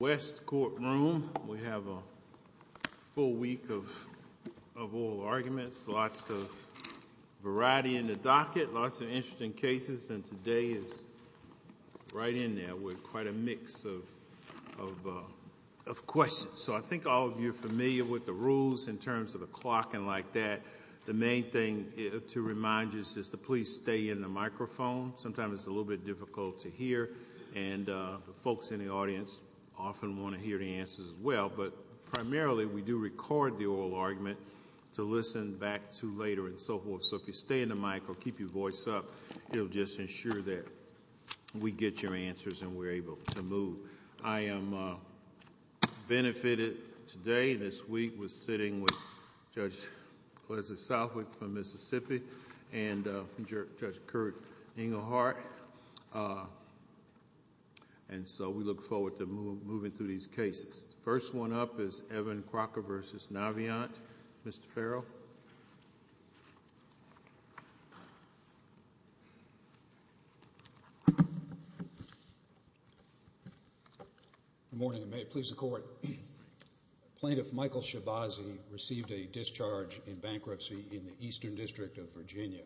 West Courtroom. We have a full week of oral arguments, lots of variety in the docket, lots of interesting cases, and today is right in there with quite a mix of questions. So I think all of you are familiar with the rules in terms of a clock and like that. The main thing to remind you is just to please stay in the microphone. Sometimes it's a little bit difficult to hear, and the folks in the audience often want to hear the answers as well. But primarily, we do record the oral argument to listen back to later and so forth. So if you stay in the mic or keep your voice up, it'll just ensure that we get your answers and we're able to move. I am benefited today, this week, with sitting with Judge Leslie Southwick from Mississippi and Judge Kurt Engelhardt, and so we look forward to moving through these cases. First one up is Evan Crocker v. Navient. Mr. Farrell? Good morning, and may it please the Court. Plaintiff Michael Shibazi received a discharge in bankruptcy in the Eastern District of Virginia.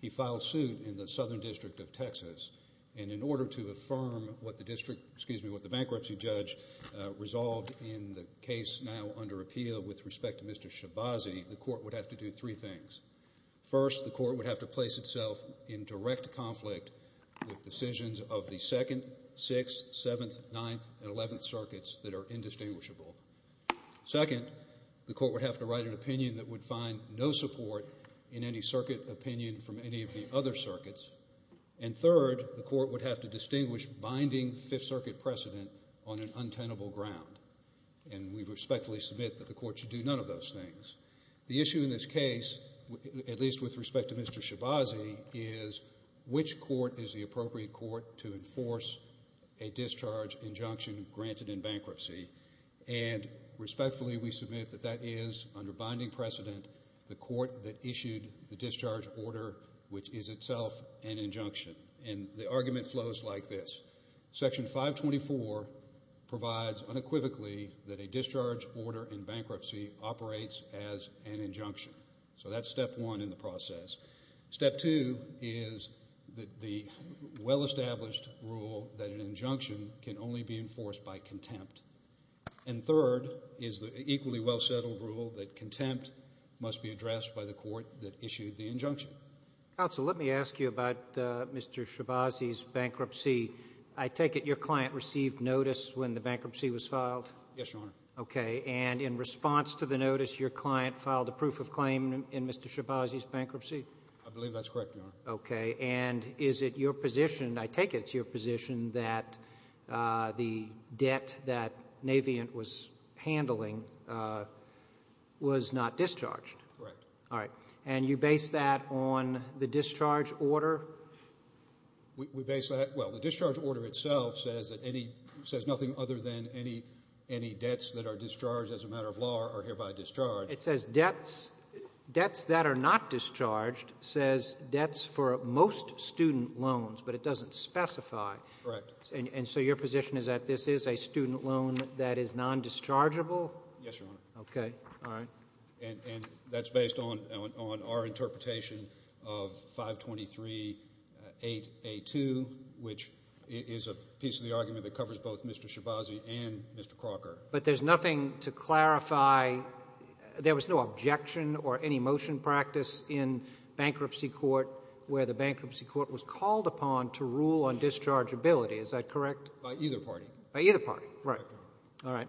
He filed suit in the Southern District of Texas, and in order to affirm what the bankruptcy judge resolved in the case now under appeal with respect to Mr. Shibazi, the Court would have to do three things. First, the Court would have to place itself in direct conflict with decisions of the 2nd, 6th, 7th, 9th, and 11th circuits that are indistinguishable. Second, the Court would have to write an opinion that would find no support in any circuit opinion from any of the other circuits. And third, the Court would have to distinguish binding Fifth Circuit precedent on an untenable ground, and we respectfully submit that the Court should do none of those things. The issue in this case, at least with respect to Mr. Shibazi, is which court is the appropriate court to enforce a discharge injunction granted in bankruptcy, and respectfully we submit that is, under binding precedent, the court that issued the discharge order, which is itself an injunction. And the argument flows like this. Section 524 provides unequivocally that a discharge order in bankruptcy operates as an injunction. So that's step one in the process. Step two is the well-established rule that an injunction can only be enforced by contempt. And third is the equally well-settled rule that contempt must be addressed by the court that issued the injunction. Counsel, let me ask you about Mr. Shibazi's bankruptcy. I take it your client received notice when the bankruptcy was filed? Yes, Your Honor. Okay, and in response to the notice, your client filed a proof of claim in Mr. Shibazi's bankruptcy? I believe that's Navient was handling, was not discharged. Correct. All right, and you base that on the discharge order? We base that, well, the discharge order itself says that any, says nothing other than any, any debts that are discharged as a matter of law are hereby discharged. It says debts, debts that are not discharged says debts for most student loans, but it doesn't specify. Correct. And so your position is that this is a student loan that is non-dischargeable? Yes, Your Honor. Okay, all right. And that's based on our interpretation of 523-8A2, which is a piece of the argument that covers both Mr. Shibazi and Mr. Crocker. But there's nothing to clarify, there was no objection or any motion practice in bankruptcy court where the bankruptcy court was called upon to rule on dischargeability, is that correct? By either party. By either party, right, all right.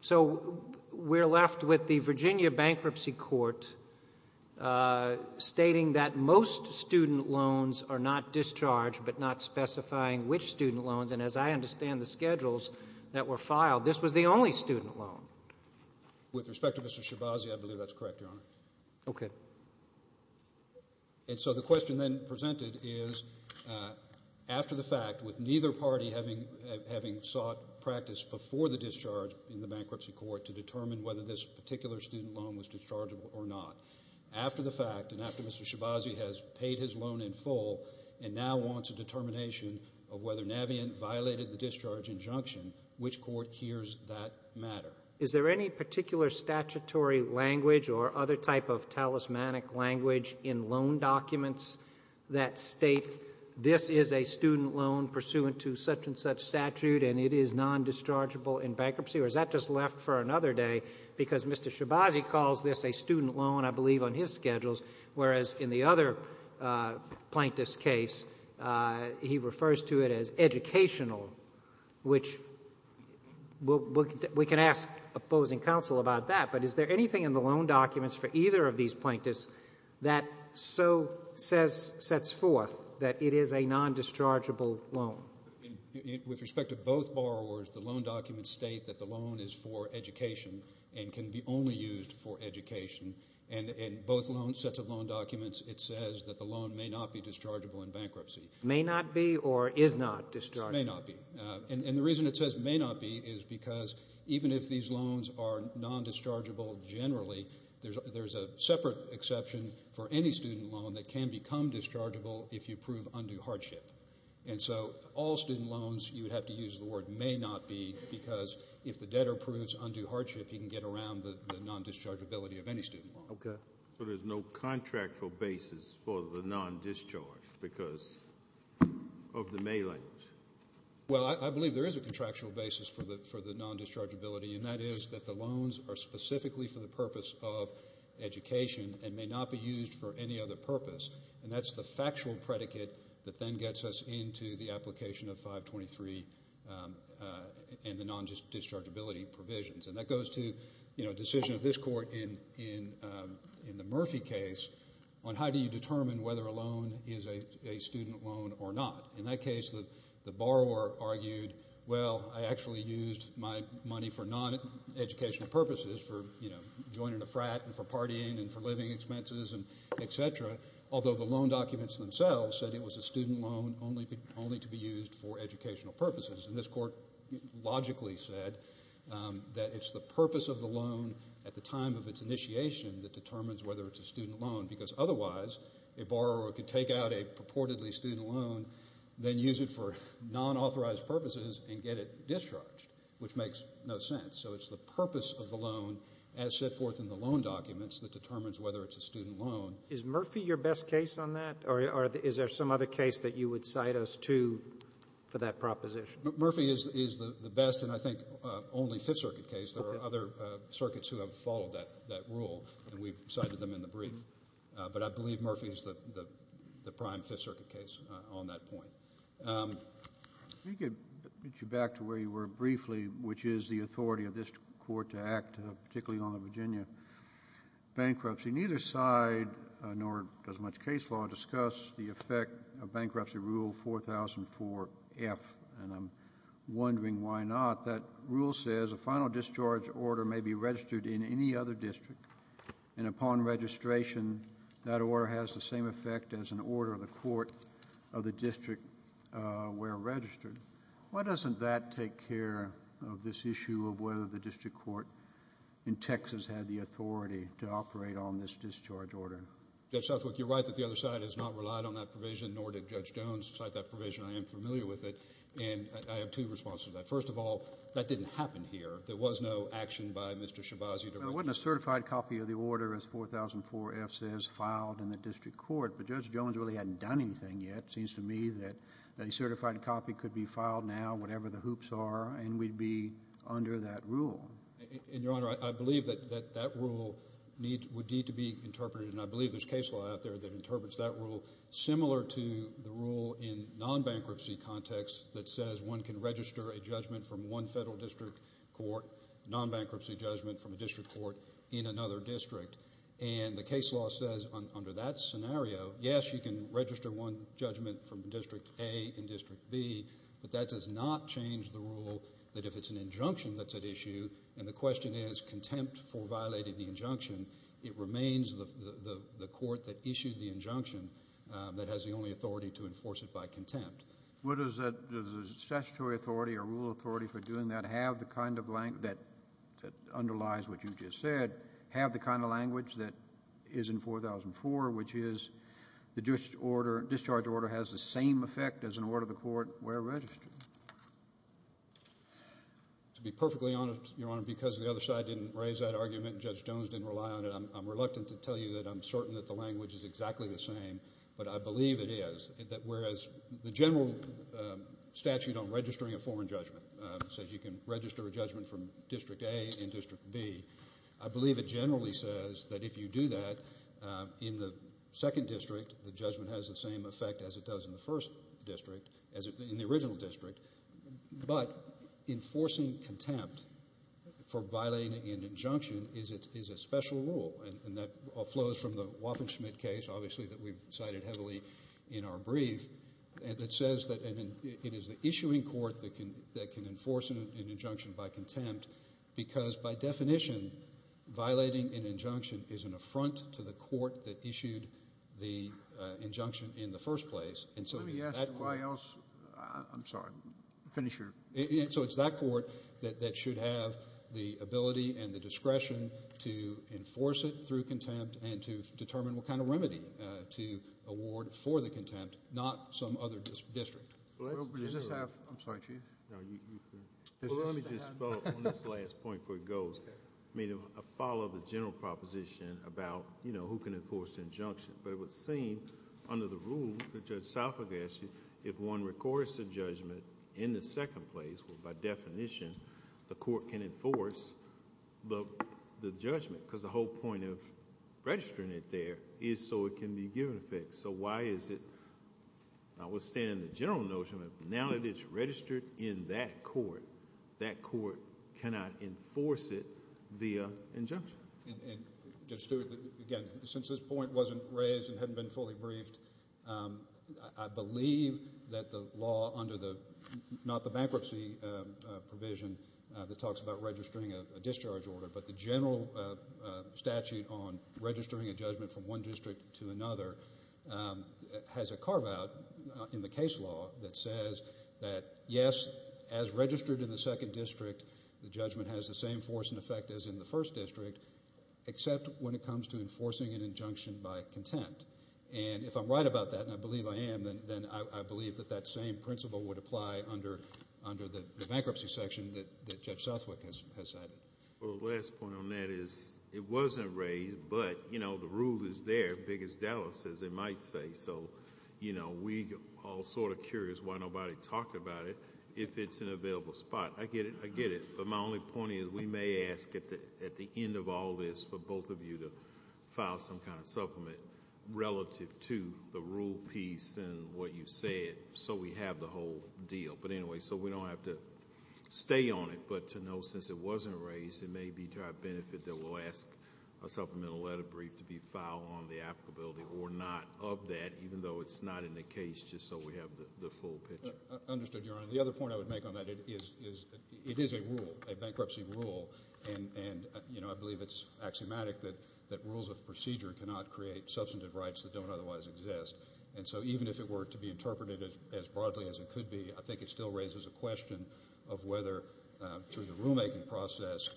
So we're left with the Virginia Bankruptcy Court stating that most student loans are not discharged, but not specifying which student loans, and as I understand the schedules that were filed, this was the only student loan. With respect to Mr. Shibazi, I believe that's correct, Your Honor. Okay. And so the question then presented is, after the fact, with neither party having sought practice before the discharge in the bankruptcy court to determine whether this particular student loan was dischargeable or not, after the fact and after Mr. Shibazi has paid his loan in full and now wants a determination of whether Navient violated the discharge injunction, which court hears that matter? Is there any particular statutory language or other type of talismanic language in loan documents that state this is a student loan pursuant to such and such statute and it is non-dischargeable in bankruptcy, or is that just left for another day because Mr. Shibazi calls this a student loan, I believe, on his schedules, whereas in the other plaintiff's case, he refers to it as educational, which we can ask opposing counsel about that, but is there anything in the loan documents for either of these plaintiffs that so sets forth that it is a non-dischargeable loan? With respect to both borrowers, the loan documents state that the loan is for education and can be only used for education, and in both sets of loan documents, it says that the loan may not be dischargeable in bankruptcy. May not be or is not dischargeable? May not be, and the reason it says may not be is because even if these loans are non-dischargeable generally, there's a separate exception for any student loan that can become dischargeable if you prove undue hardship, and so all student loans, you would have to use the word may not be because if the debtor proves undue hardship, he can get around the non-dischargeability of any student loan. Okay, so there's no contractual basis for the non-discharge because of the mailings? Well, I believe there is a contractual basis for the non-dischargeability, and that is that the loans are specifically for the purpose of education and may not be used for any other purpose, and that's the factual predicate that then gets us into the application of 523 and the non-dischargeability provisions, and that goes to, you know, decision of this court in the Murphy case on how do you determine whether a loan is a student loan or not. In that case, the borrower argued, well, I actually used my money for non-educational purposes for, you know, joining a frat and for partying and for living expenses and etc., although the loan documents themselves said it was a student loan. The borrower logically said that it's the purpose of the loan at the time of its initiation that determines whether it's a student loan because otherwise a borrower could take out a purportedly student loan, then use it for non-authorized purposes and get it discharged, which makes no sense, so it's the purpose of the loan as set forth in the loan documents that determines whether it's a student loan. Is Murphy your best case on that, or is there some other case that you would cite us to for that proposition? Murphy is the best, and I think only Fifth Circuit case. There are other circuits who have followed that rule, and we've cited them in the brief, but I believe Murphy is the prime Fifth Circuit case on that point. Let me get you back to where you were briefly, which is the authority of this court to act particularly on the Virginia bankruptcy. Neither side, nor does much case law, discuss the effect of bankruptcy rule 4004F, and I'm wondering why not. That rule says a final discharge order may be registered in any other district, and upon registration, that order has the same effect as an order of the court of the district where registered. Why doesn't that take care of this issue of whether the district court in Texas had the authority to operate on this discharge order? Judge Southwick, you're right that the other side has not relied on that provision, nor did Judge Jones cite that provision. I am familiar with it, and I have two responses to that. First of all, that didn't happen here. There was no action by Mr. Shabazzi. There wasn't a certified copy of the order as 4004F says filed in the district court, but Judge Jones really hadn't done anything yet. It seems to me that a certified copy could be used. That rule would need to be interpreted, and I believe there's case law out there that interprets that rule similar to the rule in non-bankruptcy context that says one can register a judgment from one federal district court, non-bankruptcy judgment from a district court, in another district, and the case law says under that scenario, yes, you can register one judgment from District A and District B, but that does not change the rule that if it's an injunction that's issued, and the question is contempt for violating the injunction, it remains the court that issued the injunction that has the only authority to enforce it by contempt. Does the statutory authority or rule authority for doing that have the kind of language that underlies what you just said, have the kind of language that is in 4004, which is the discharge order has the same effect as an order the court were registered? To be perfectly honest, Your Honor, because the other side didn't raise that argument, Judge Jones didn't rely on it, I'm reluctant to tell you that I'm certain that the language is exactly the same, but I believe it is, that whereas the general statute on registering a foreign judgment says you can register a judgment from District A and District B, I believe it generally says that if you do that in the second district, the judgment has the same effect as it does in the first district, in the original district, but enforcing contempt for violating an injunction is a special rule, and that all flows from the Waffen-Schmidt case, obviously that we've cited heavily in our brief, and it says that it is the issuing court that can enforce an injunction by contempt, because by definition, violating an injunction is an affront to the court that issued the injunction in the first place, and so it's that court that should have the ability and the discretion to enforce it through contempt and to determine what kind of remedy to award for the contempt, not some other district. I'm sorry, Chief. Well, let me just follow up on this last point before it goes. I mean, I follow the general proposition about who can enforce the injunction, but it would seem under the rule that Judge Salfagasti, if one records the judgment in the second place, by definition, the court can enforce the judgment, because the whole point of registering it there is so it can be given to the district. So why is it, I will stand in the general notion, but now that it's registered in that court, that court cannot enforce it via injunction. And Judge Stewart, again, since this point wasn't raised and hadn't been fully briefed, I believe that the law under the, not the bankruptcy provision that talks about registering a discharge order, but the general statute on registering a judgment from one district to another, has a carve out in the case law that says that, yes, as registered in the second district, the judgment has the same force and effect as in the first district, except when it comes to enforcing an injunction by contempt. And if I'm right about that, and I believe I am, then I believe that that same principle would apply under the bankruptcy section that Judge Southwick has cited. Well, the last point on that is, it wasn't raised, but, you know, the rule is there, big as Dallas, as they might say. So, you know, we all sort of curious why nobody talked about it, if it's an available spot. I get it, I get it. But my only point is, we may ask at the end of all this for both of you to file some kind of supplement relative to the rule piece and what you said, so we have the whole deal. But anyway, so we don't have to stay on it, but to know, since it wasn't raised, it may be to our benefit that we'll ask a supplemental letter brief to be filed on the applicability or not of that, even though it's not in the case, just so we have the full picture. Understood, Your Honor. The other point I would make on that is, it is a rule, a bankruptcy rule, and, you know, I believe it's axiomatic that rules of procedure cannot create substantive rights that don't otherwise exist. And so even if it were to be interpreted as broadly as it could be, I think it still raises a question of whether, through the rulemaking process,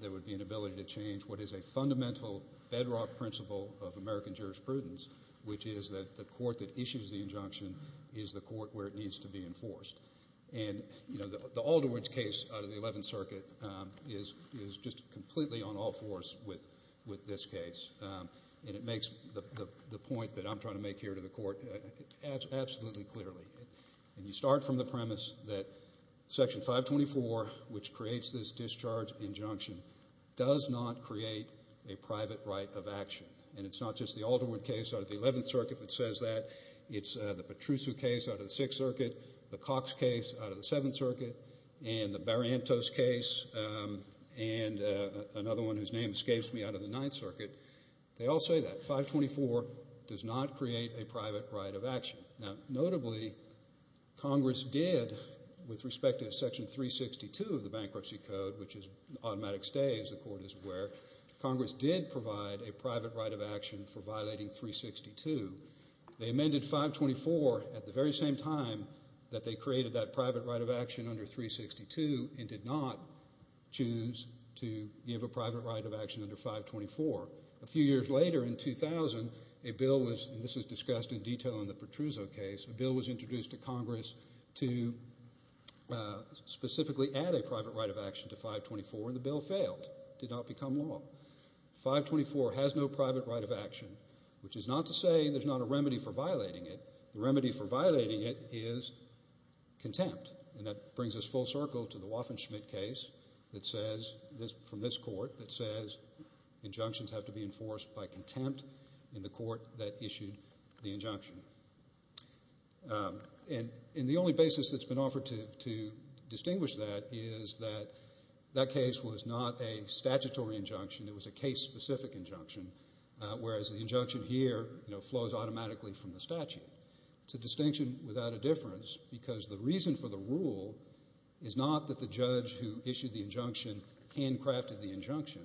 there would be an ability to change what is a fundamental bedrock principle of American jurisprudence, which is that the court that issues the injunction is the court where it needs to be enforced. And, you know, the Alderwood case out of the 11th Circuit is just completely on all fours with this case, and it makes the point that I'm trying to make here to the court absolutely clearly, and you start from the premise that Section 524, which creates this discharge injunction, does not create a private right of action. And it's not just the Alderwood case out of the 11th Circuit that says that. It's the Petrusso case out of the 6th Circuit, the Cox case out of the 7th Circuit, and the Barrientos case, and another one whose name escapes me, out of the 9th Circuit. They all say that. 524 does not create a private right of action. Now, notably, Congress did, with respect to Section 362 of the Bankruptcy Code, which is automatic stay, as the court is aware, Congress did provide a private right of action for violating 362. They amended 524 at the very same time that they created that private right of action under 362 and did not choose to give a private right of action under 524. A few years later, in 2000, a bill was, and this is discussed in detail in the Petrusso case, a bill was introduced to Congress to specifically add a private right of action to 524, and the bill failed. It did not become law. 524 has no private right of action, which is not to say there's not a remedy for violating it. The remedy for violating it is contempt, and that brings us full circle to the Waffen-Schmidt case that says, from this court, that says injunctions have to be enforced by contempt in the court that issued the injunction, and the only basis that's been offered to distinguish that is that that case was not a statutory injunction. It was a case-specific injunction, whereas the injunction here flows automatically from the statute. It's a distinction without a difference because the reason for the rule is not that the judge who issued the injunction handcrafted the injunction.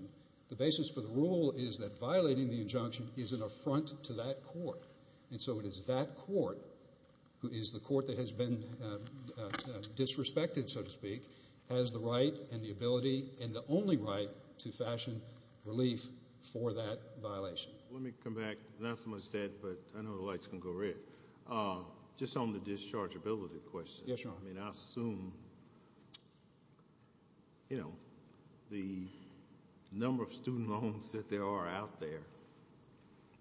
The basis for the rule is that violating the injunction is an affront to that court, and so it is that court who is the court that has been disrespected, so to speak, has the right and the ability and the only right to fashion relief for that violation. Let me come back. Not so much, Dad, but I know the lights can go red. Just on the dischargeability question, I mean, I assume, you know, the number of student loans that there are out there,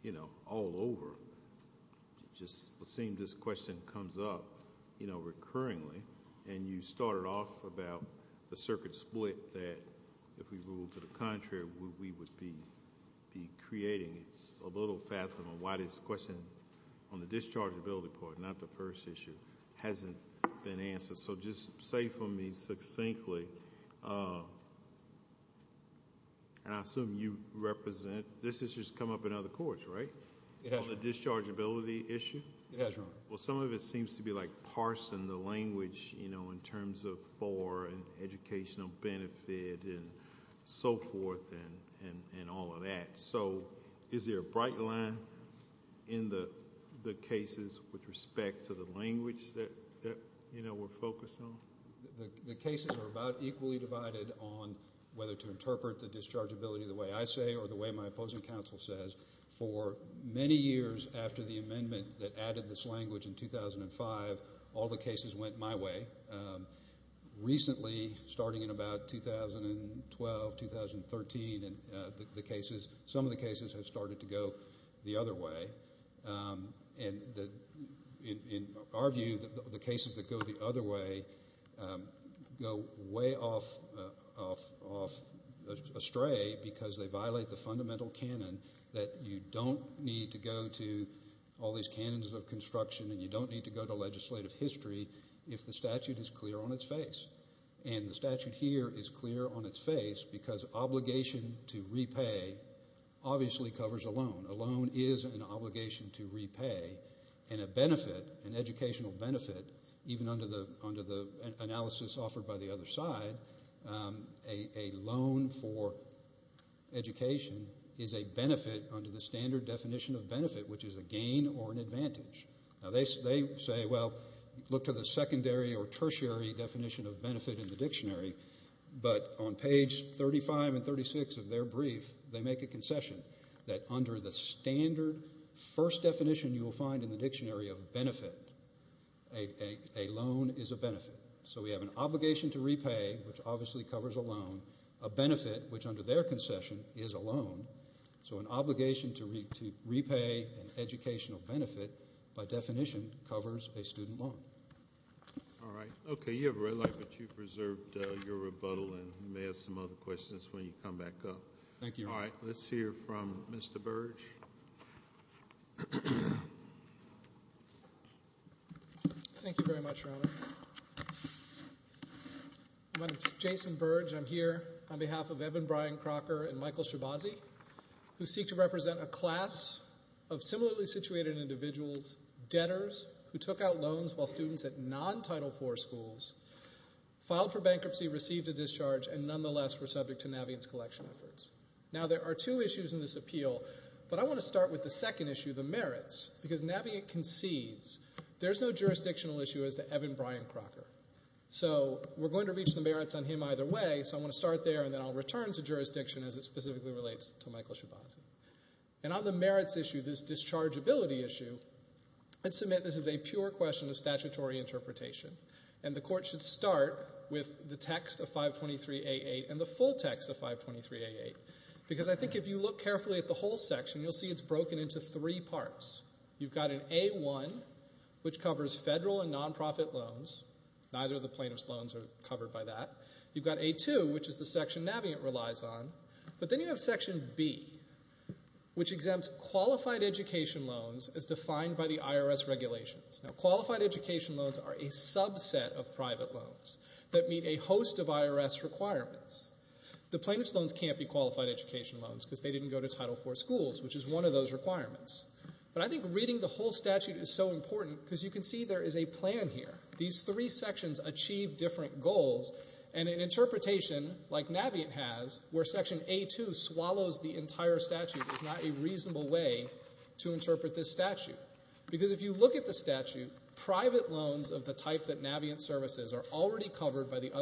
you know, all over, just seeing this question comes up, you know, recurringly, and you started off about the circuit split that, if we ruled to the contrary, we would be creating. It's a little fathom on why this question on the dischargeability part, not the first issue, hasn't been answered, so just say for me succinctly, and I assume you represent, this has just come up in other courts, right? It has. It has, Your Honor. Well, some of it seems to be, like, parsing the language, you know, in terms of for an educational benefit and so forth and all of that, so is there a bright line in the cases with respect to the language that, you know, we're focused on? The cases are about equally divided on whether to interpret the dischargeability the way I say or the way my opposing counsel says. For many years after the amendment that added this language in 2005, all the cases went my way. Recently, starting in about 2012, 2013, the cases, some of the cases have started to go the other way, and in our view, the cases that go the other way go way off astray because they violate the fundamental canon that you don't need to go to all these canons of construction and you don't need to go to legislative history if the statute is clear on its face, and the statute here is clear on its face because obligation to repay obviously covers a loan. A loan is an obligation to repay, and a benefit, an educational benefit, even under the analysis offered by the other side, a loan for education is a benefit under the standard definition of benefit, which is a gain or an advantage. Now, they say, well, look to the secondary or tertiary definition of benefit in the dictionary, but on page 35 and 36 of their brief, they make a concession that under the standard first definition you will find in the dictionary of benefit, a loan is a benefit. So we have an obligation to repay, which obviously covers a loan, a benefit, which under their concession is a loan, so an obligation to repay an educational benefit by definition covers a student loan. All right, okay, you have a red light, but you've preserved your rebuttal, and you may have some other questions when you come back up. Thank you. All right, let's hear from Mr. Burge. Thank you very much, Your Honor. My name is Jason Burge. I'm here on behalf of Evan Brian Crocker and Michael Shibazi, who seek to represent a class of similarly situated individuals, debtors who took out loans while students at non-Title IV schools filed for bankruptcy, received a discharge, and nonetheless were subject to Naviance collection efforts. Now, there are two issues in this appeal, but I want to start with the second issue, the merits, because Naviance concedes there's no jurisdictional issue as to Evan Brian Crocker. So we're going to reach the merits on him either way, so I want to start there, and then I'll return to jurisdiction as it specifically relates to Michael Shibazi. And on the merits issue, this dischargeability issue, I'd submit this is a pure question of statutory interpretation, and the court should start with the text of 523A8 and the full text of 523A8, because I think if you look carefully at the whole section, you'll see it's broken into three parts. You've got an A1, which covers federal and non-profit loans. Neither of the plaintiff's loans are covered by that. You've got A2, which is the section Naviance relies on. But then you have section B, which exempts qualified education loans as defined by the IRS regulations. Now, qualified education loans are a subset of private loans that meet a host of IRS requirements. The plaintiff's loans can't be qualified education loans, because they didn't go to Title IV schools, which is one of those requirements. But I think reading the whole statute is so important, because you can see there is a plan here. These three sections achieve different goals, and an interpretation like Naviance has, where section A2 swallows the entire statute, is not a reasonable way to interpret this statute. Because if you look at the statute, private loans of the type that Naviance services are already covered by the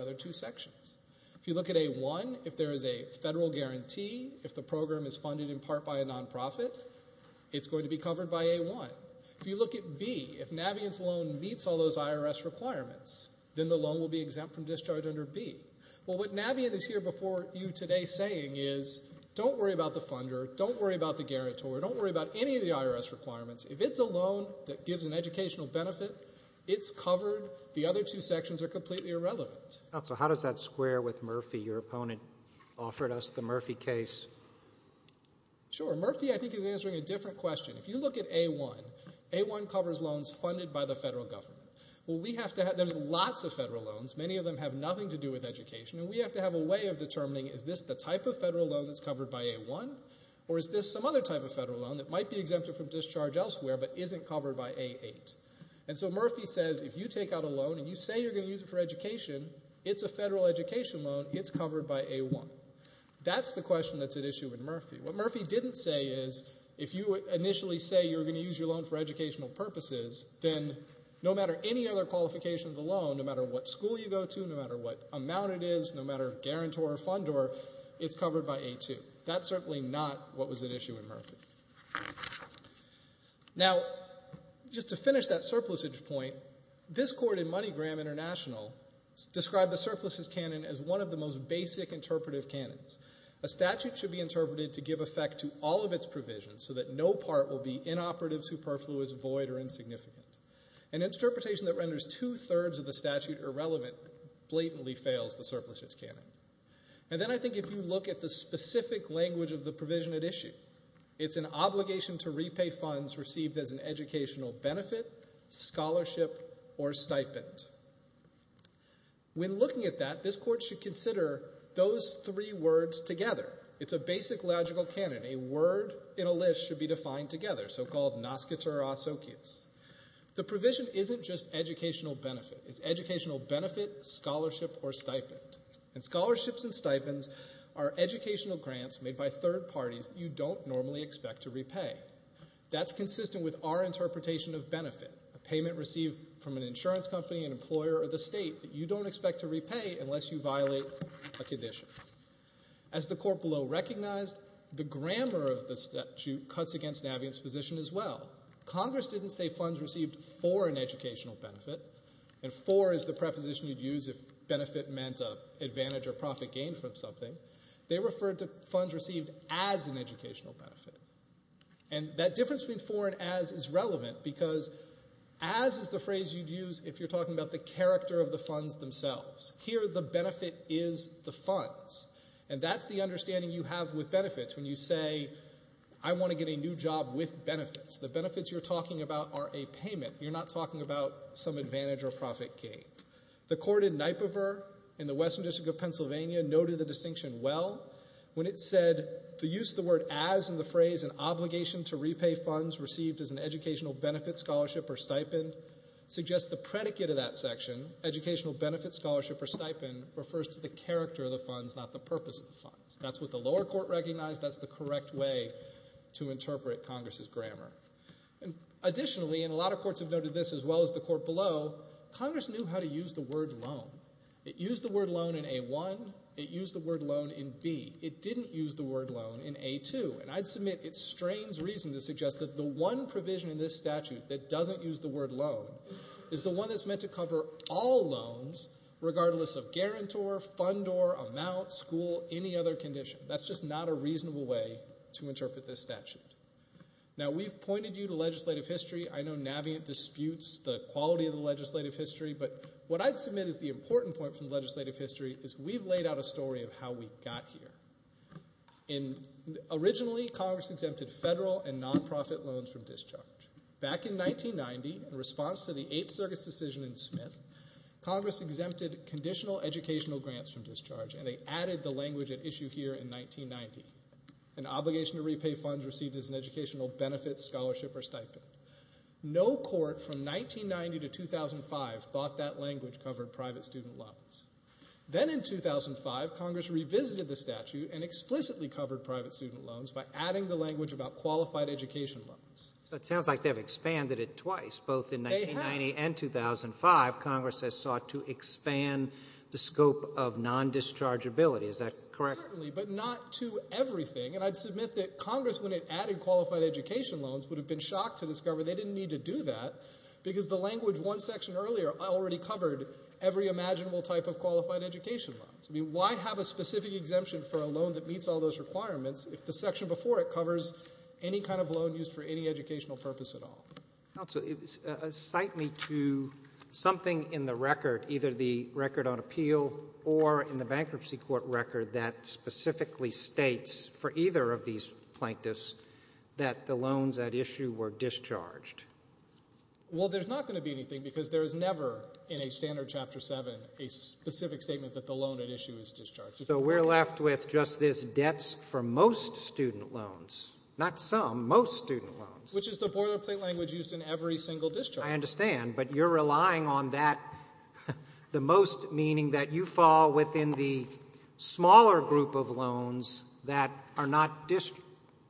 other two sections. If you look at A1, if there is a federal guarantee, if the program is funded in part by a non-profit, it's going to be covered by A1. If you look at B, if Naviance's loan meets all those IRS requirements, then the loan will be exempt from discharge under B. Well, what Naviance is here before you today saying is, don't worry about the funder, don't worry about the guarantor, don't worry about any of the IRS requirements. If it's a loan that gives an educational benefit, it's covered. The other two sections are completely irrelevant. Counsel, how does that square with Murphy? Your opponent offered us the Murphy case. Sure. Murphy, I think, is answering a different question. If you look at A1, A1 covers loans funded by the federal government. Well, we have to have, there's lots of federal loans, many of them have nothing to do with education, and we have to have a way of determining is this the type of federal loan that's covered by A1, or is this some other type of federal loan that might be exempted from discharge elsewhere but isn't covered by A8? And so Murphy says, if you take out a loan and you say you're going to use it for education, it's a federal education loan, it's covered by A1. That's the question that's at issue with Murphy. What Murphy didn't say is, if you initially say you're going to use your loan for educational purposes, then no matter any other qualifications of the loan, no matter what school you go to, no matter what amount it is, no matter guarantor or funder, it's covered by A2. That's certainly not what was at issue with Murphy. Now, just to finish that surplusage point, this court in MoneyGram International described the surpluses canon as one of the most basic interpretive canons. A statute should be interpreted to give effect to all of its provisions so that no part will be inoperative, superfluous, void, or insignificant. An interpretation that renders two-thirds of the statute irrelevant blatantly fails the surplusage canon. And then I think if you look at the specific language of the provision at issue, it's an obligation to repay funds received as an educational benefit, scholarship, or stipend. When looking at that, this court should consider those three words together. It's a basic logical canon. A word in a list should be defined together, so-called nascitur asocius. The provision isn't just educational benefit. It's educational benefit, scholarship, or stipend. And scholarships and stipends are educational grants made by third parties you don't normally expect to repay. That's consistent with our interpretation of benefit, a payment received from an insurance company, an employer, or the state that you don't expect to repay unless you violate a condition. As the court below recognized, the grammar of the statute cuts against Navient's position as well. Congress didn't say funds received for an educational benefit. And for is the preposition you'd use if benefit meant an advantage or profit gained from something. They referred to funds received as an educational benefit. And that difference between for and as is relevant because as is the phrase you'd use if you're talking about the character of the funds themselves. Here, the benefit is the funds. And that's the understanding you have with benefits. The benefits you're talking about are a payment. You're not talking about some advantage or profit gain. The court in Nipover in the Western District of Pennsylvania noted the distinction well when it said the use of the word as in the phrase an obligation to repay funds received as an educational benefit, scholarship, or stipend suggests the predicate of that section, educational benefit, scholarship, or stipend, refers to the character of the funds, not the purpose of the grammar. Additionally, and a lot of courts have noted this as well as the court below, Congress knew how to use the word loan. It used the word loan in A-1. It used the word loan in B. It didn't use the word loan in A-2. And I'd submit it strains reason to suggest that the one provision in this statute that doesn't use the word loan is the one that's meant to cover all loans regardless of guarantor, fund or amount, school, any other condition. That's just not a reasonable way to interpret this statute. Now, we've pointed you to legislative history. I know Navient disputes the quality of the legislative history, but what I'd submit is the important point from legislative history is we've laid out a story of how we got here. And originally, Congress exempted federal and nonprofit loans from discharge. Back in 1990, in response to the Eighth Circuit's decision in Smith, Congress exempted conditional educational grants from discharge and they added the language at issue here in 1990. An obligation to repay funds received as an educational benefit, scholarship or stipend. No court from 1990 to 2005 thought that language covered private student loans. Then in 2005, Congress revisited the statute and explicitly covered private student loans by adding the language about qualified education loans. So it sounds like they've expanded it twice, both in 1990 and 2005, Congress has sought to expand the scope of non-dischargeability. Is that correct? Certainly, but not to everything. And I'd submit that Congress, when it added qualified education loans, would have been shocked to discover they didn't need to do that because the language one section earlier already covered every imaginable type of qualified education loans. I mean, why have a specific exemption for a loan that meets all those requirements if the section before it covers any kind of loan used for any educational purpose at all? Counsel, cite me to something in the record, either the record on appeal or in the bankruptcy court record, that specifically states for either of these plaintiffs that the loans at issue were discharged. Well, there's not going to be anything because there is never in a standard chapter 7 a specific statement that the loan at issue is discharged. So we're left with just this debts for most student loans, not some, most student loans. Which is the boilerplate language used in every single discharge. I understand, but you're relying on that the most, meaning that you fall within the smaller group of loans that are not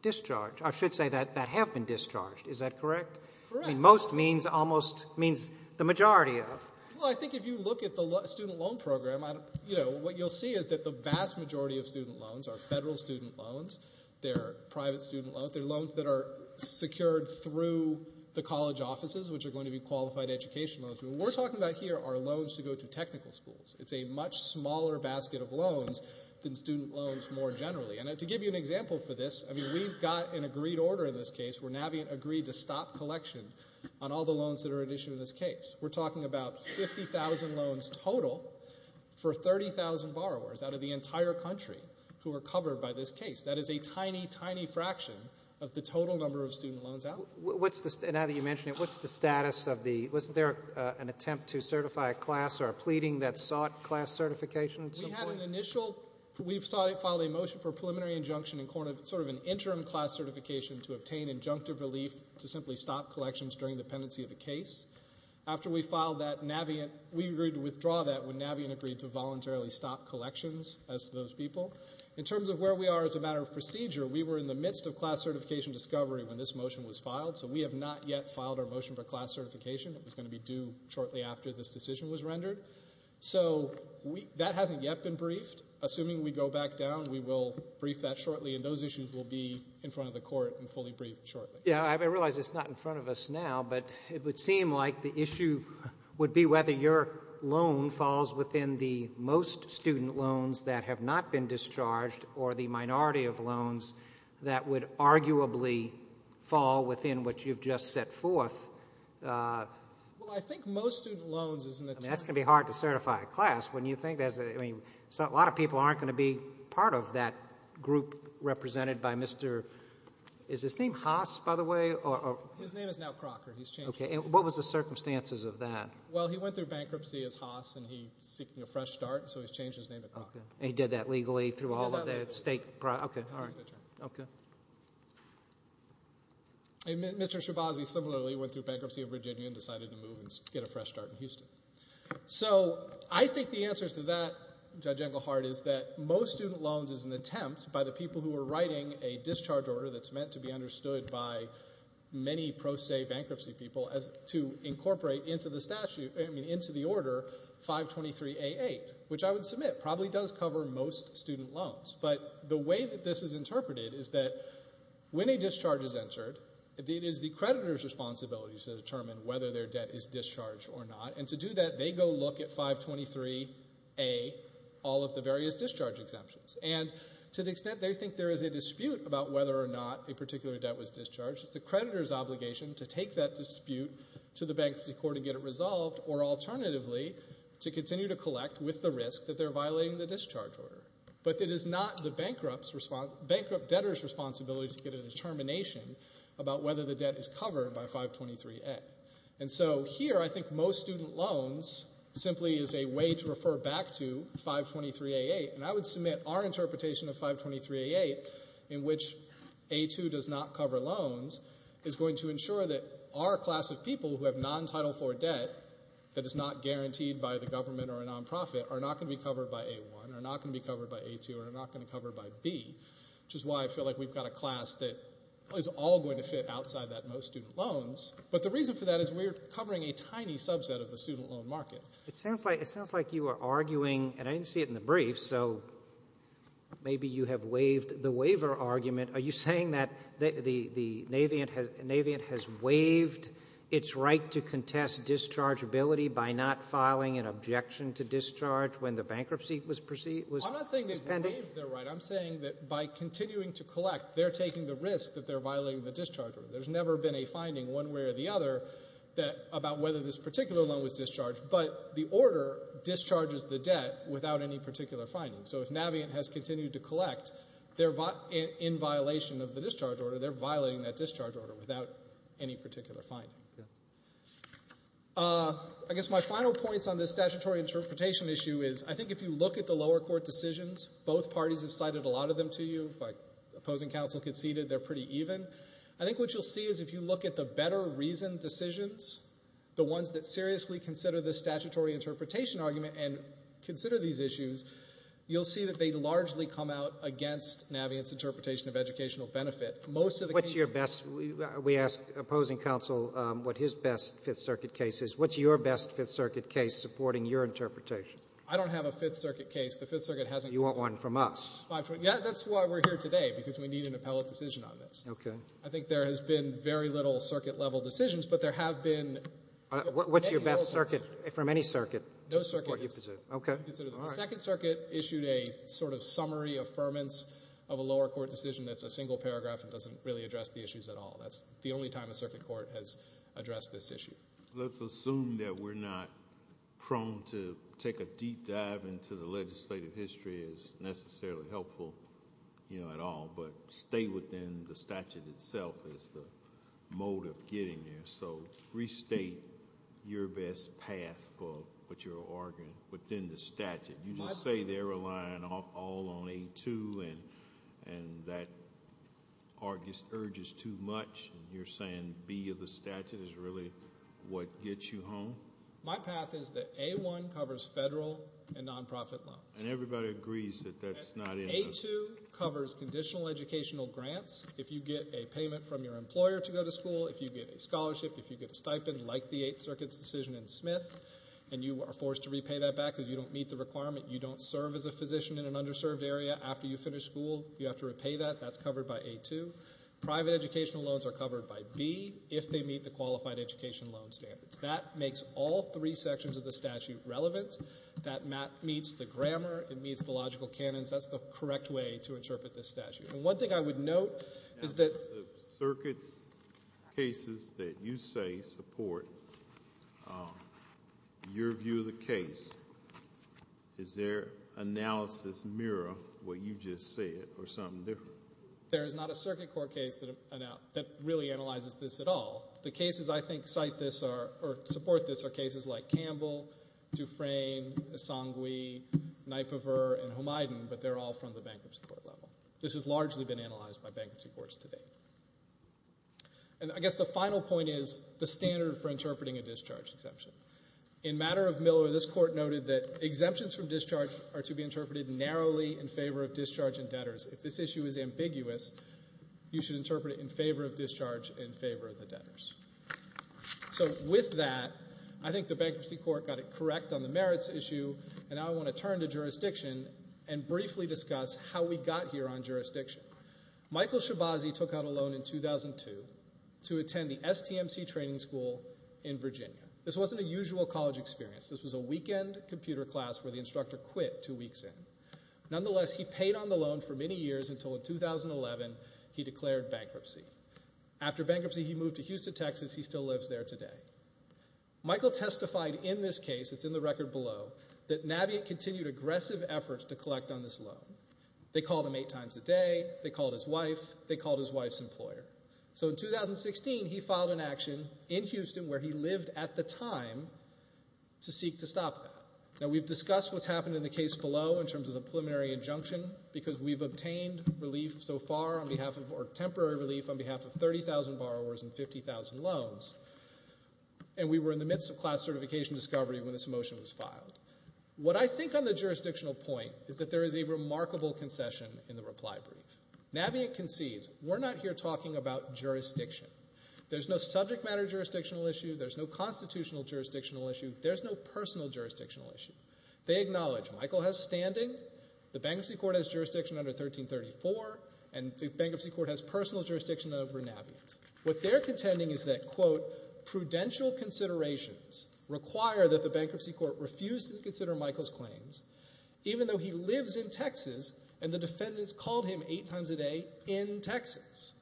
discharged, or I should say that have been discharged. Is that correct? Correct. I mean, most means almost, means the majority of. Well, I think if you look at the student loan program, you know, what you'll see is that the vast majority of student loans are federal student loans. They're private student loans. They're loans that are secured through the college offices, which are going to be qualified education loans. What we're talking about here are loans to go to technical schools. It's a much smaller basket of loans than student loans more generally. And to give you an example for this, I mean, we've got an agreed order in this case where Navient agreed to stop collection on all the loans that are at issue in this case. We're talking about 50,000 loans total for 30,000 borrowers out of the entire country who are covered by this case. That is a tiny, tiny fraction of the total number of student loans out. What's the, now that you mention it, what's the status of the, was there an attempt to certify a class or a pleading that sought class certification at some point? We had an initial, we've filed a motion for preliminary injunction in sort of an interim class certification to obtain injunctive relief to simply stop collections during the pendency of the case. After we filed that, Navient, we agreed to withdraw that when Navient agreed to voluntarily stop collections, as to those people. In terms of where we are as a matter of procedure, we were in the midst of class certification discovery when this motion was filed, so we have not yet filed our motion for class certification. It was going to be due shortly after this decision was rendered. So that hasn't yet been briefed. Assuming we go back down, we will brief that shortly, and those issues will be in front of the court and fully briefed shortly. Yeah, I realize it's not in front of us now, but it would seem like the issue would be whether your loan falls within the most student loans that have not been discharged or the minority of loans that would arguably fall within what you've just set forth. Well, I think most student loans... I mean, that's going to be hard to certify a class when you think there's, I mean, a lot of people aren't going to be part of that group represented by Mr., is his name Haas, by the way? His name is now Crocker. Okay, and what was the circumstances of that? Well, he went through bankruptcy as Haas, and he's seeking a fresh start, so he's changed his name to Crocker. Okay, and he did that legally through all of the state... Okay, all right, okay. Mr. Shabazzi similarly went through bankruptcy of Virginia and decided to move and get a fresh start in Houston. So I think the answer to that, Judge Englehart, is that most student loans is an attempt by the people who are writing a discharge order that's meant to be understood by many pro se bankruptcy people as to incorporate into the statute, I mean, into the order 523A8, which I would submit probably does cover most student loans. But the way that this is interpreted is that when a discharge is entered, it is the creditor's responsibility to determine whether their debt is discharged or not. And to do that, they go look at 523A, all of the various discharge exemptions. And to the extent they think there is a dispute about whether or not a particular debt was discharged, it's the creditor's obligation to take that dispute to the bankruptcy court and get it resolved, or alternatively, to continue to collect with the risk that they're violating the discharge order. But it is not the bankrupt debtor's responsibility to get a determination about whether the debt is covered by 523A. And so here, I think most student loans simply is a way to refer back to 523A8. And I would submit our interpretation of 523A8, in which A2 does not that is not guaranteed by the government or a nonprofit, are not going to be covered by A1, are not going to be covered by A2, are not going to be covered by B, which is why I feel like we've got a class that is all going to fit outside that most student loans. But the reason for that is we're covering a tiny subset of the student loan market. It sounds like you are arguing, and I didn't see it in the brief, so maybe you have waived the waiver argument. Are you saying that Navient has waived its right to contest dischargeability by not filing an objection to discharge when the bankruptcy was pending? I'm not saying they've waived their right. I'm saying that by continuing to collect, they're taking the risk that they're violating the discharge order. There's never been a finding, one way or the other, about whether this particular loan was discharged. But the order discharges the debt without any particular finding. So if Navient has continued to collect, in violation of the discharge order, they're violating that discharge order without any particular finding. I guess my final points on this statutory interpretation issue is I think if you look at the lower court decisions, both parties have cited a lot of them to you. Opposing counsel conceded they're pretty even. I think what you'll see is if you look at the better reasoned decisions, the ones that seriously consider the statutory interpretation argument and consider these issues, you'll see that they largely come out against Navient's interpretation of educational benefit. Most of the cases we ask opposing counsel what his best Fifth Circuit case is. What's your best Fifth Circuit case supporting your interpretation? I don't have a Fifth Circuit case. The Fifth Circuit hasn't. You want one from us. That's why we're here today, because we need an appellate decision on this. Okay. I think there has been very little circuit-level decisions, but there have been. What's your best circuit, from any circuit? No circuit. To support your position. Okay. Consider this. The Second Circuit issued a sort of summary affirmance of a lower court decision that's a single paragraph and doesn't really address the issues at all. That's the only time a circuit court has addressed this issue. Let's assume that we're not prone to take a deep dive into the legislative history as necessarily helpful at all, but stay within the statute itself as the mode of getting there. So restate your best path for what you're arguing within the statute. You just say they're relying all on A-2, and that urge is too much. You're saying B of the statute is really what gets you home? My path is that A-1 covers federal and non-profit loans. And everybody agrees that that's not enough. A-2 covers conditional educational grants. If you get a payment from your employer to go to school, if you get a scholarship, if you get a stipend like the Eighth Circuit's decision in Smith, and you are forced to repay that back because you don't meet the requirement, you don't serve as a physician in an underserved area after you finish school, you have to repay that. That's covered by A-2. Private educational loans are covered by B if they meet the qualified education loan standards. That makes all three sections of the statute relevant. That meets the grammar. It meets the logical canons. That's the correct way to interpret this statute. One thing I would note is that— Now, the circuit's cases that you say support your view of the case, does their analysis mirror what you just said or something different? There is not a circuit court case that really analyzes this at all. The cases I think cite this or support this are cases like Campbell, Dufresne, Esangui, Naipaver, and Homayden, but they're all from the bankruptcy court level. This has largely been analyzed by bankruptcy courts to date. I guess the final point is the standard for interpreting a discharge exemption. In matter of Miller, this court noted that exemptions from discharge are to be interpreted narrowly in favor of discharge and debtors. If this issue is ambiguous, you should interpret it in favor of discharge in favor of the debtors. With that, I think the bankruptcy court got it correct on the merits issue, and now I want to turn to jurisdiction and briefly discuss how we got here on jurisdiction. Michael Shibazi took out a loan in 2002 to attend the STMC training school in Virginia. This wasn't a usual college experience. This was a weekend computer class where the instructor quit two weeks in. Nonetheless, he paid on the loan for many years until in 2011 he declared bankruptcy. After bankruptcy, he moved to Houston, Texas. He still lives there today. Michael testified in this case, it's in the record below, that Navient continued aggressive efforts to collect on this loan. They called him eight times a day. They called his wife. They called his wife's employer. So in 2016, he filed an action in Houston where he lived at the time to seek to stop that. Now, we've discussed what's happened in the case below in terms of the preliminary injunction because we've obtained relief so far on behalf of, or temporary relief on behalf of 30,000 borrowers and 50,000 loans, and we were in the midst of class certification discovery when this motion was filed. What I think on the jurisdictional point is that there is a remarkable concession in the reply brief. Navient concedes, we're not here talking about jurisdiction. There's no subject matter jurisdictional issue. There's no constitutional jurisdictional issue. There's no personal jurisdictional issue. They acknowledge Michael has standing. The bankruptcy court has jurisdiction under 1334, and the bankruptcy court has personal jurisdiction over Navient. What they're contending is that, quote, prudential considerations require that the bankruptcy court refuse to consider Michael's claims, even though he lives in Texas, and the defendants called him eight times a day in Texas.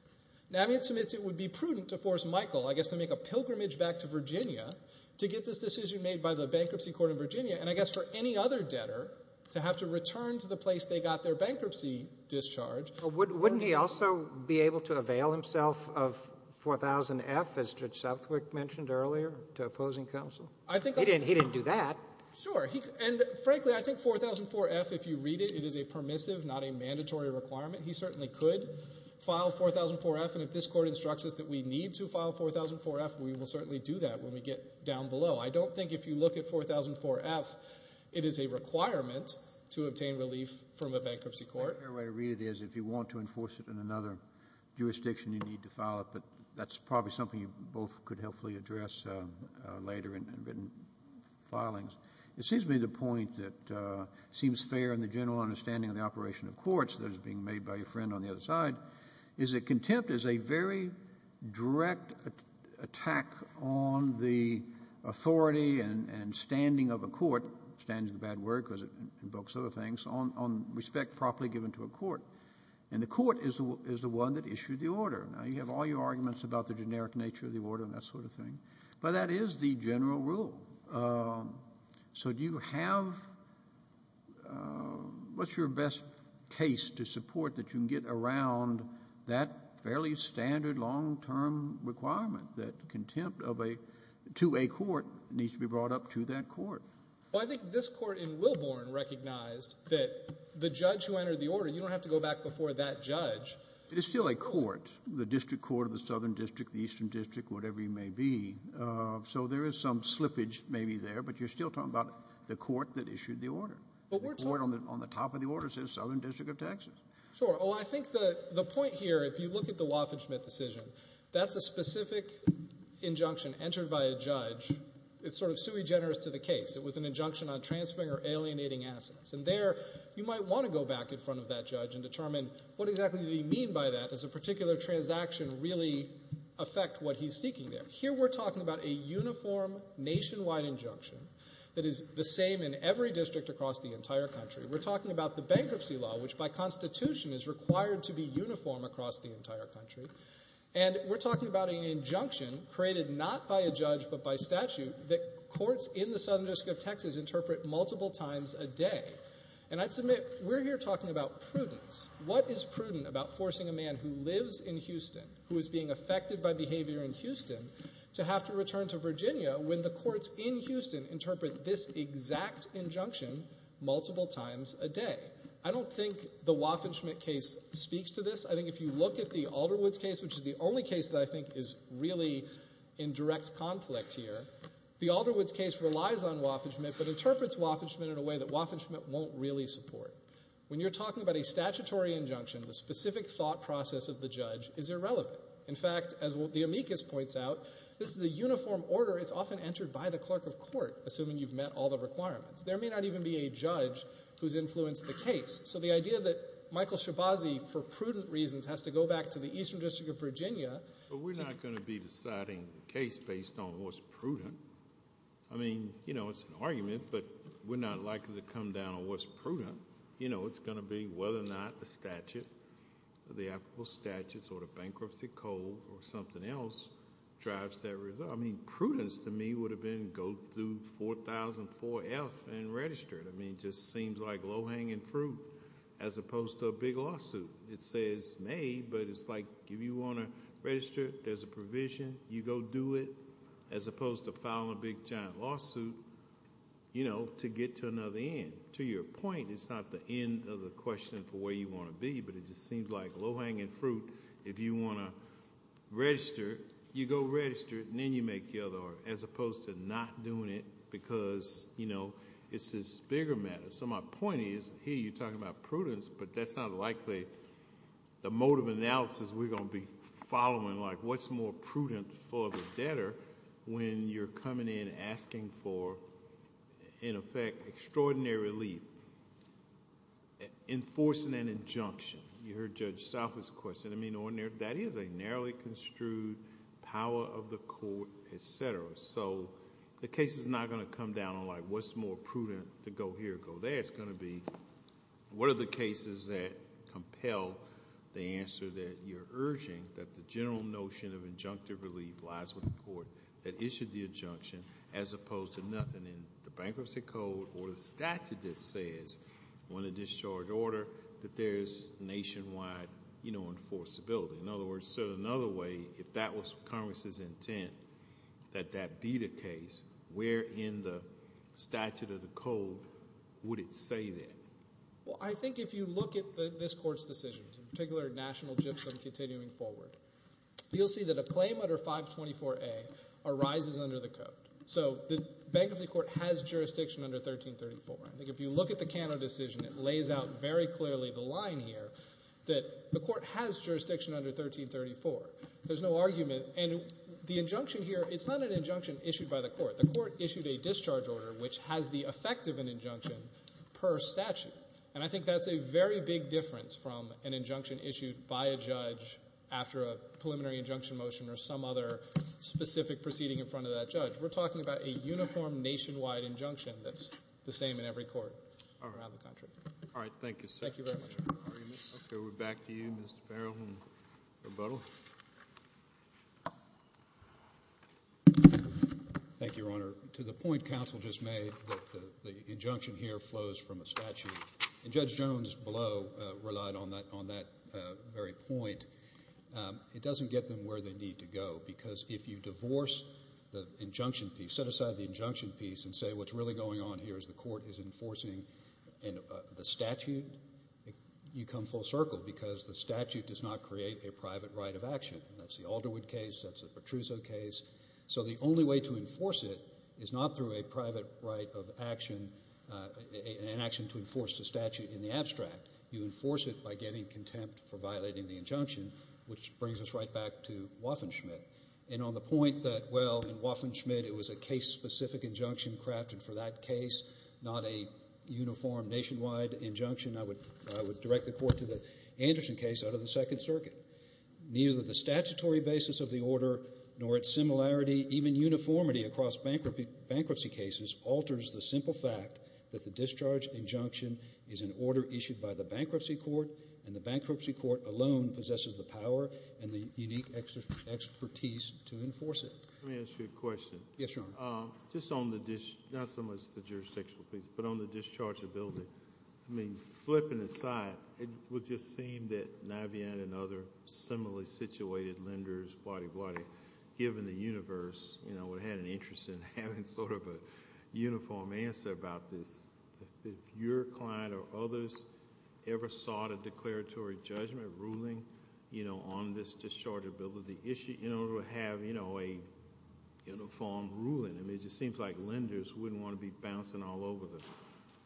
Navient submits it would be prudent to force Michael, I guess, to make a pilgrimage back to Virginia to get this decision made by the bankruptcy court in Virginia, and I guess for any other debtor to have to return to the place they got their bankruptcy discharge. Wouldn't he also be able to avail himself of 4000F, as Judge Southwick mentioned earlier, to opposing counsel? He didn't do that. Sure. And frankly, I think 4004F, if you read it, it is a permissive, not a mandatory requirement. He certainly could file 4004F, and if this court instructs us that we need to file 4004F, we will certainly do that when we get down below. I don't think if you look at 4004F, it is a requirement to obtain relief from the bankruptcy court. The fair way to read it is if you want to enforce it in another jurisdiction, you need to file it, but that's probably something you both could helpfully address later in written filings. It seems to me the point that seems fair in the general understanding of the operation of courts that is being made by your friend on the other side is that contempt is a very direct attack on the authority and standing of a court, standing is a bad word because it invokes other things, on respect properly given to a court. And the court is the one that issued the order. Now, you have all your arguments about the generic nature of the order and that sort of thing, but that is the general rule. So do you have, what's your best case to support that you can get around that fairly standard long-term requirement that contempt of a, to a court needs to be brought up to that court? Well, I think this court in Wilbourn recognized that the judge who entered the order, you don't have to go back before that judge. It is still a court, the district court of the southern district, the eastern district, whatever you may be. So there is some slippage maybe there, but you're still talking about the court that issued the order. The court on the top of the order says southern district of Texas. Sure. Oh, I think the point here, if you look at the Waffen-Schmidt decision, that's a specific injunction entered by a judge. It's sort of sui generis to the case. It was an injunction on transferring or alienating assets. And there, you might want to go back in front of that judge and determine what exactly did he mean by that as a particular transaction really affect what he's seeking there. Here we're talking about a uniform nationwide injunction that is the same in every district across the entire country. We're talking about the bankruptcy law, which by constitution is required to be uniform across the entire country. And we're talking about an injunction created not by a judge but by statute that courts in the southern district of Texas interpret multiple times a day. And I'd submit we're here talking about prudence. What is prudent about forcing a man who lives in Houston, who is being affected by behavior in Houston, to have to return to Virginia when the courts in Houston interpret this exact injunction multiple times a day? I don't think the Waffen-Schmidt case speaks to this. I think if you look at the Alderwoods case, which is the only case that I think is really in direct conflict here, the Alderwoods case relies on Waffen-Schmidt but interprets Waffen-Schmidt in a way that Waffen-Schmidt won't really support. When you're talking about a statutory injunction, the specific thought process of the judge is irrelevant. In fact, as the amicus points out, this is a uniform order. It's often entered by the clerk of court, assuming you've met all the requirements. There may not even be a judge who's influenced the case. So the idea that Michael Shabazzi, for prudent reasons, has to go back to the eastern district of Virginia... But we're not going to be deciding the case based on what's prudent. I mean, it's an argument, but we're not likely to come down on what's prudent. It's going to be whether or not the statute, the applicable statute, or the bankruptcy code, or something else drives that result. Prudence, to me, would have been go through 4004F and register it. It just seems like low-hanging fruit, as opposed to a big lawsuit. It says may, but it's like, if you want to register, there's a provision. You go do it, as opposed to filing a big, giant lawsuit to get to another end. To your point, it's not the end of the question for where you want to be, but it just seems like low-hanging fruit. If you want to register, you go register it, and then you make the other, as opposed to not doing it because it's this bigger matter. My point is, here you're talking about prudence, but that's not likely the mode of analysis we're going to be following. What's more prudent for the debtor when you're coming in asking for, in effect, extraordinary relief? Enforcing an injunction. You heard Judge Salford's question. That is a narrowly construed power of the court, et cetera. The case is not going to come down on what's more prudent to go here or go there. It's going to be what are the cases that compel the answer that you're urging, that the general notion of injunctive relief lies with the court that issued the injunction, as opposed to nothing in the bankruptcy code or the statute that says on a discharge order that there's nationwide enforceability. In other words, another way, if that was Congress's intent, that that be the case, where in the statute or the code would it say that? I think if you look at this court's decisions, in particular, National GIPSA and continuing forward, you'll see that a claim under 524A arises under the code. So the bankruptcy court has jurisdiction under 1334. I think if you look at the Cano decision, it lays out very clearly the line here that the court has jurisdiction under 1334. There's no argument. And the injunction here, it's not an injunction issued by the court. The court issued a discharge order which has the effect of an injunction per statute. And I think that's a very big difference from an injunction issued by a judge after a preliminary injunction motion or some other specific proceeding in front of that judge. We're talking about a uniform nationwide injunction that's the same in every court around the country. All right. Thank you, sir. Thank you very much. Okay. We're back to you, Mr. Farrell, in rebuttal. Thank you, Your Honor. To the point counsel just made that the injunction here flows from a statute, and Judge Jones below relied on that very point, it doesn't get them where they need to go. Because if you divorce the injunction piece, set aside the injunction piece, and say what's really going on here is the court is enforcing the statute, you come full circle. Because the statute does not create a private right of action. That's the Alderwood case. That's the Petruzzo case. So the only way to enforce it is not through a private right of action, an action to enforce the statute in the abstract. You enforce it by getting contempt for violating the injunction, which brings us right back to Waffen-Schmidt. And on the point that, well, in Waffen-Schmidt it was a case-specific injunction crafted for that case, not a uniform nationwide injunction, I would direct the court to the Anderson case out of the Second Circuit. Neither the statutory basis of the order nor its similarity, even uniformity, across bankruptcy cases alters the simple fact that the discharge injunction is an order issued by the bankruptcy court, and the bankruptcy court alone possesses the power and the unique expertise to enforce it. Let me ask you a question. Yes, Your Honor. Just on the discharge, not so much the jurisdictional piece, but on the dischargeability, I mean, flipping aside, it would just seem that Navien and other similarly situated lenders, blody, blody, given the universe, you know, would have had an interest in having sort of a uniform answer about this. If your client or others ever sought a declaratory judgment ruling, you know, on this dischargeability issue, you know, to have, you know, a uniform ruling. I mean, it just seems like lenders wouldn't want to be bouncing all over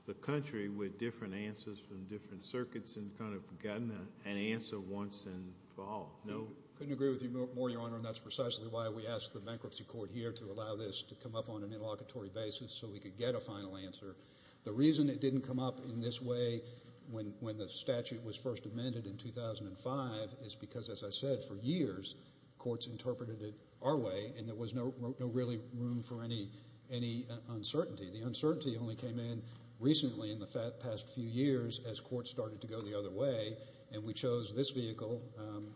the country with different answers from different circuits and kind of gotten an answer once and for all. No? Couldn't agree with you more, Your Honor, and that's precisely why we asked the bankruptcy court here to allow this to come up on an interlocutory basis so we could get a final answer. The reason it didn't come up in this way when the statute was first amended in 2005 is because, as I said, for years courts interpreted it our way, and there was no really room for any uncertainty. The uncertainty only came in recently in the past few years as courts started to go the other way, and we chose this vehicle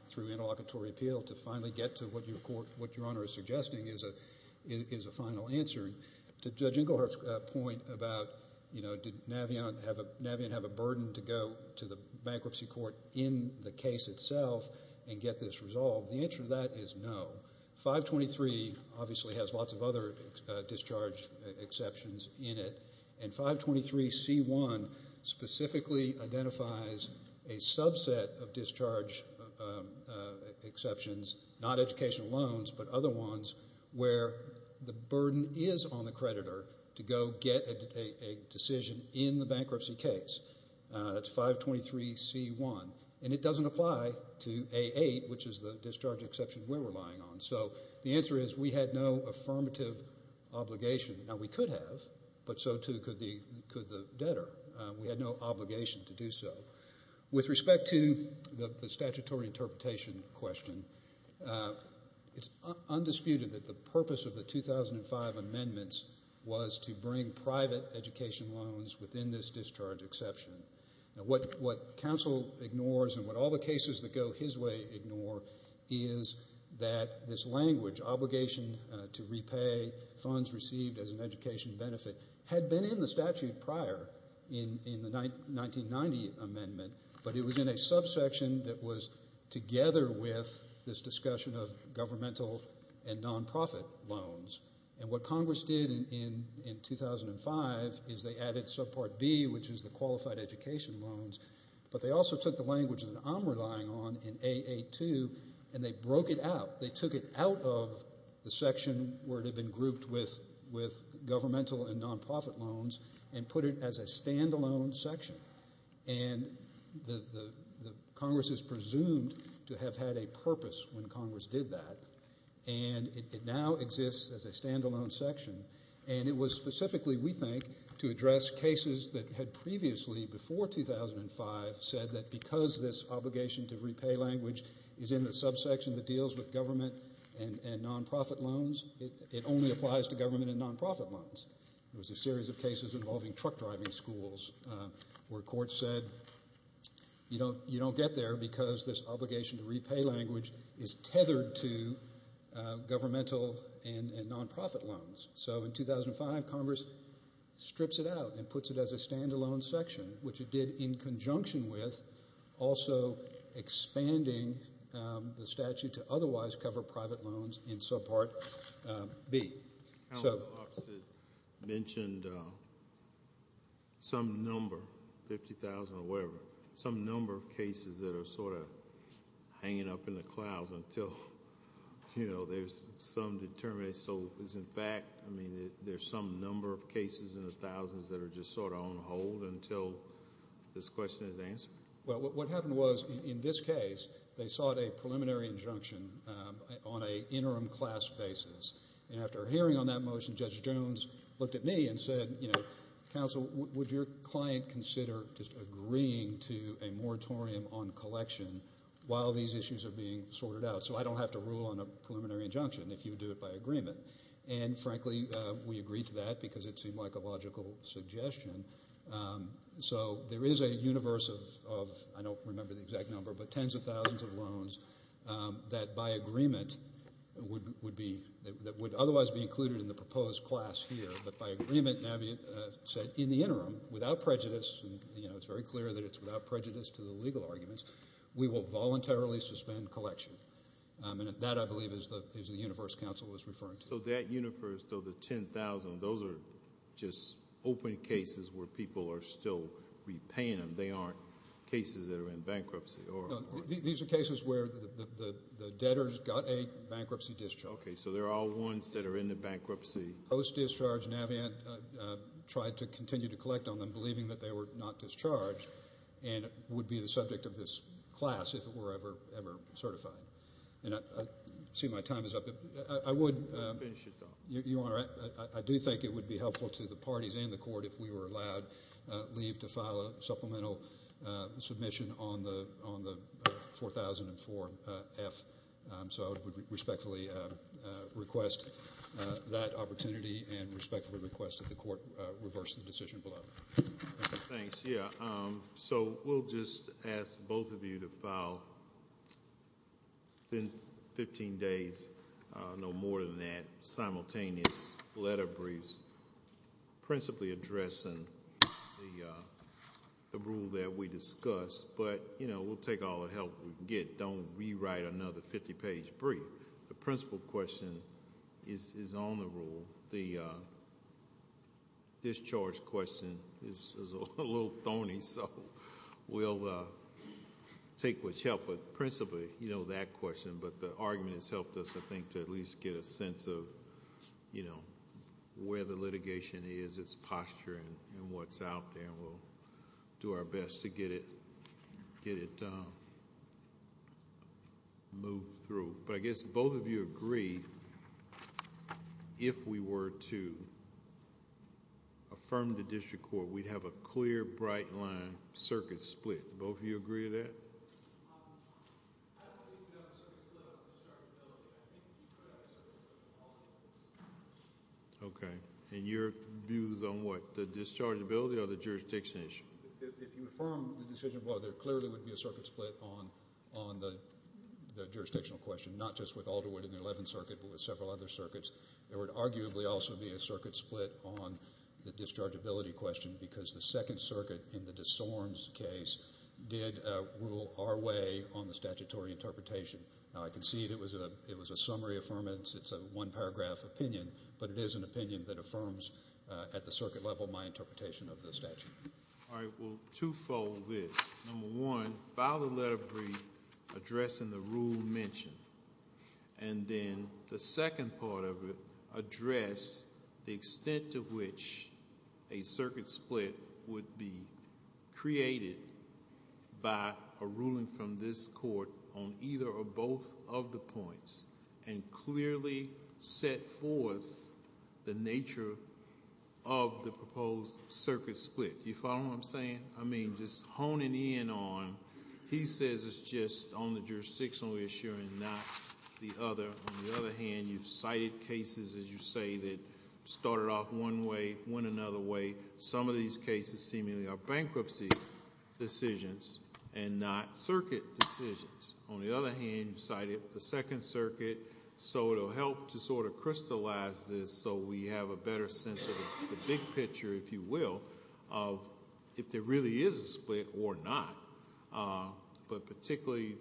through interlocutory appeal to finally get to what Your Honor is suggesting is a final answer. To Judge Engelhardt's point about, you know, did Navient have a burden to go to the bankruptcy court in the case itself and get this resolved? The answer to that is no. 523 obviously has lots of other discharge exceptions in it, and 523C1 specifically identifies a subset of discharge exceptions, not educational loans, but other ones where the burden is on the creditor to go get a decision in the bankruptcy case. That's 523C1, and it doesn't apply to A8, which is the discharge exception we're relying on. So the answer is we had no affirmative obligation. Now, we could have, but so too could the debtor. We had no obligation to do so. With respect to the statutory interpretation question, it's undisputed that the purpose of the 2005 amendments was to bring private education loans within this discharge exception. Now, what counsel ignores and what all the cases that go his way ignore is that this language, obligation to repay funds received as an education benefit, had been in the statute prior in the 1990 amendment, but it was in a subsection that was together with this discussion of governmental and non-profit loans. And what Congress did in 2005 is they added subpart B, which is the qualified education loans, but they also took the language that I'm relying on in A82, and they broke it out. They took it out of the section where it had been grouped with governmental and non-profit loans and put it as a standalone section. And Congress is presumed to have had a purpose when Congress did that, and it now exists as a standalone section. And it was specifically, we think, to address cases that had previously, before 2005, said that because this obligation to repay language is in the subsection that deals with government and non-profit loans, it only applies to government and non-profit loans. There was a series of cases involving truck driving schools where courts said you don't get there because this obligation to repay language is tethered to governmental and non-profit loans. So in 2005, Congress strips it out and puts it as a standalone section, which it did in conjunction with also expanding the statute to otherwise cover private loans in subpart B. Senator Clarkson mentioned some number, 50,000 or whatever, some number of cases that are sort of undetermined. So is in fact, I mean, there's some number of cases in the thousands that are just sort of on hold until this question is answered? Well, what happened was, in this case, they sought a preliminary injunction on an interim class basis. And after hearing on that motion, Judge Jones looked at me and said, you know, counsel, would your client consider just agreeing to a moratorium on collection while these issues are being sorted out so I don't have to rule on a preliminary injunction if you do it by agreement? And frankly, we agreed to that because it seemed like a logical suggestion. So there is a universe of, I don't remember the exact number, but tens of thousands of loans that by agreement would be, that would otherwise be included in the proposed class here. But by agreement, Navi said, in the interim, without prejudice, you know, it's very clear that it's without prejudice to the collection. And that, I believe, is the universe counsel was referring to. So that universe, though, the 10,000, those are just open cases where people are still repaying them. They aren't cases that are in bankruptcy or... These are cases where the debtors got a bankruptcy discharge. Okay, so they're all ones that are in the bankruptcy. Post-discharge, Navi tried to continue to collect on them, believing that they were not discharged and would be the subject of this class if it were ever certified. And I see my time is up. I would... Finish your thought. Your Honor, I do think it would be helpful to the parties and the court if we were allowed leave to file a supplemental submission on the 4004F. So I would respectfully request that opportunity and respectfully request that the court reverse the decision below. Thanks. Yeah, so we'll just ask both of you to file within 15 days, no more than that, simultaneous letter briefs, principally addressing the rule that we discussed. But, you know, we'll take all the help we can get. Don't rewrite another 50-page brief. The principal question is on the rule. The discharge question is a little thorny, so we'll take what's helpful. Principally, you know that question, but the argument has helped us, I think, to at least get a sense of, you know, where the litigation is, its posture, and what's out there. We'll do our best to get it moved through. But I guess both of you agree, if we were to affirm the district court, we'd have a clear, bright line, circuit split. Both of you agree to that? Okay, and your views on what? The dischargeability or the jurisdiction issue? If you affirm the decision, well, there clearly would be a circuit split on the jurisdictional question, not just with Alderwood in the 11th Circuit, but with several other circuits. There would arguably also be a circuit split on the dischargeability question, because the 2nd Circuit, in the DeSormes case, did rule our way on the statutory interpretation. Now, I concede it was a summary affirmance. It's a one-paragraph opinion, but it is an opinion that will two-fold this. Number one, file the letter of agreement addressing the rule mentioned. And then the second part of it, address the extent to which a circuit split would be created by a ruling from this court on either or both of the points, and clearly set forth the nature of the proposed circuit split. You follow what I'm saying? I mean, just honing in on, he says it's just on the jurisdictional issue and not the other. On the other hand, you've cited cases, as you say, that started off one way, went another way. Some of these cases seemingly are bankruptcy decisions and not circuit decisions. On the other hand, you cited the 2nd Circuit, so it'll help to sort of crystallize this so we have a better sense of the big picture, if you will, of if there really is a split or not. But particularly,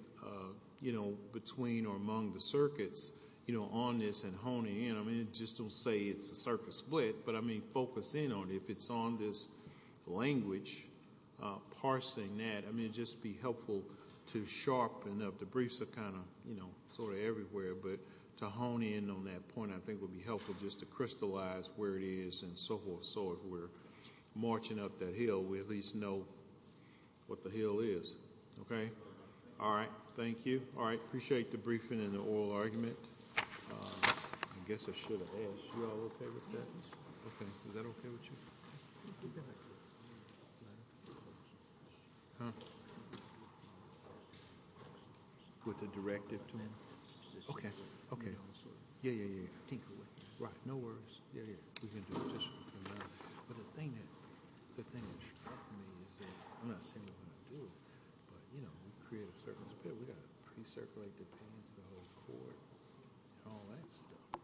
you know, between or among the circuits, you know, on this and honing in. I mean, it just don't say it's a circuit split, but I mean, focus in on it. If it's on this language, parsing that, I mean, it'd just be helpful to sharpen up. The briefs are kind of, you know, sort of everywhere, but to hone in on that point I think would be helpful just to crystallize where it is and so forth. So if we're marching up that hill, we at least know what the hill is. Okay? All right. Thank you. All right. Appreciate the briefing and the oral argument. I guess I should have asked. You all okay with that? Is that okay with you? With the directive? Okay. Okay. Yeah, yeah, yeah. Right. No worries. For all that stuff.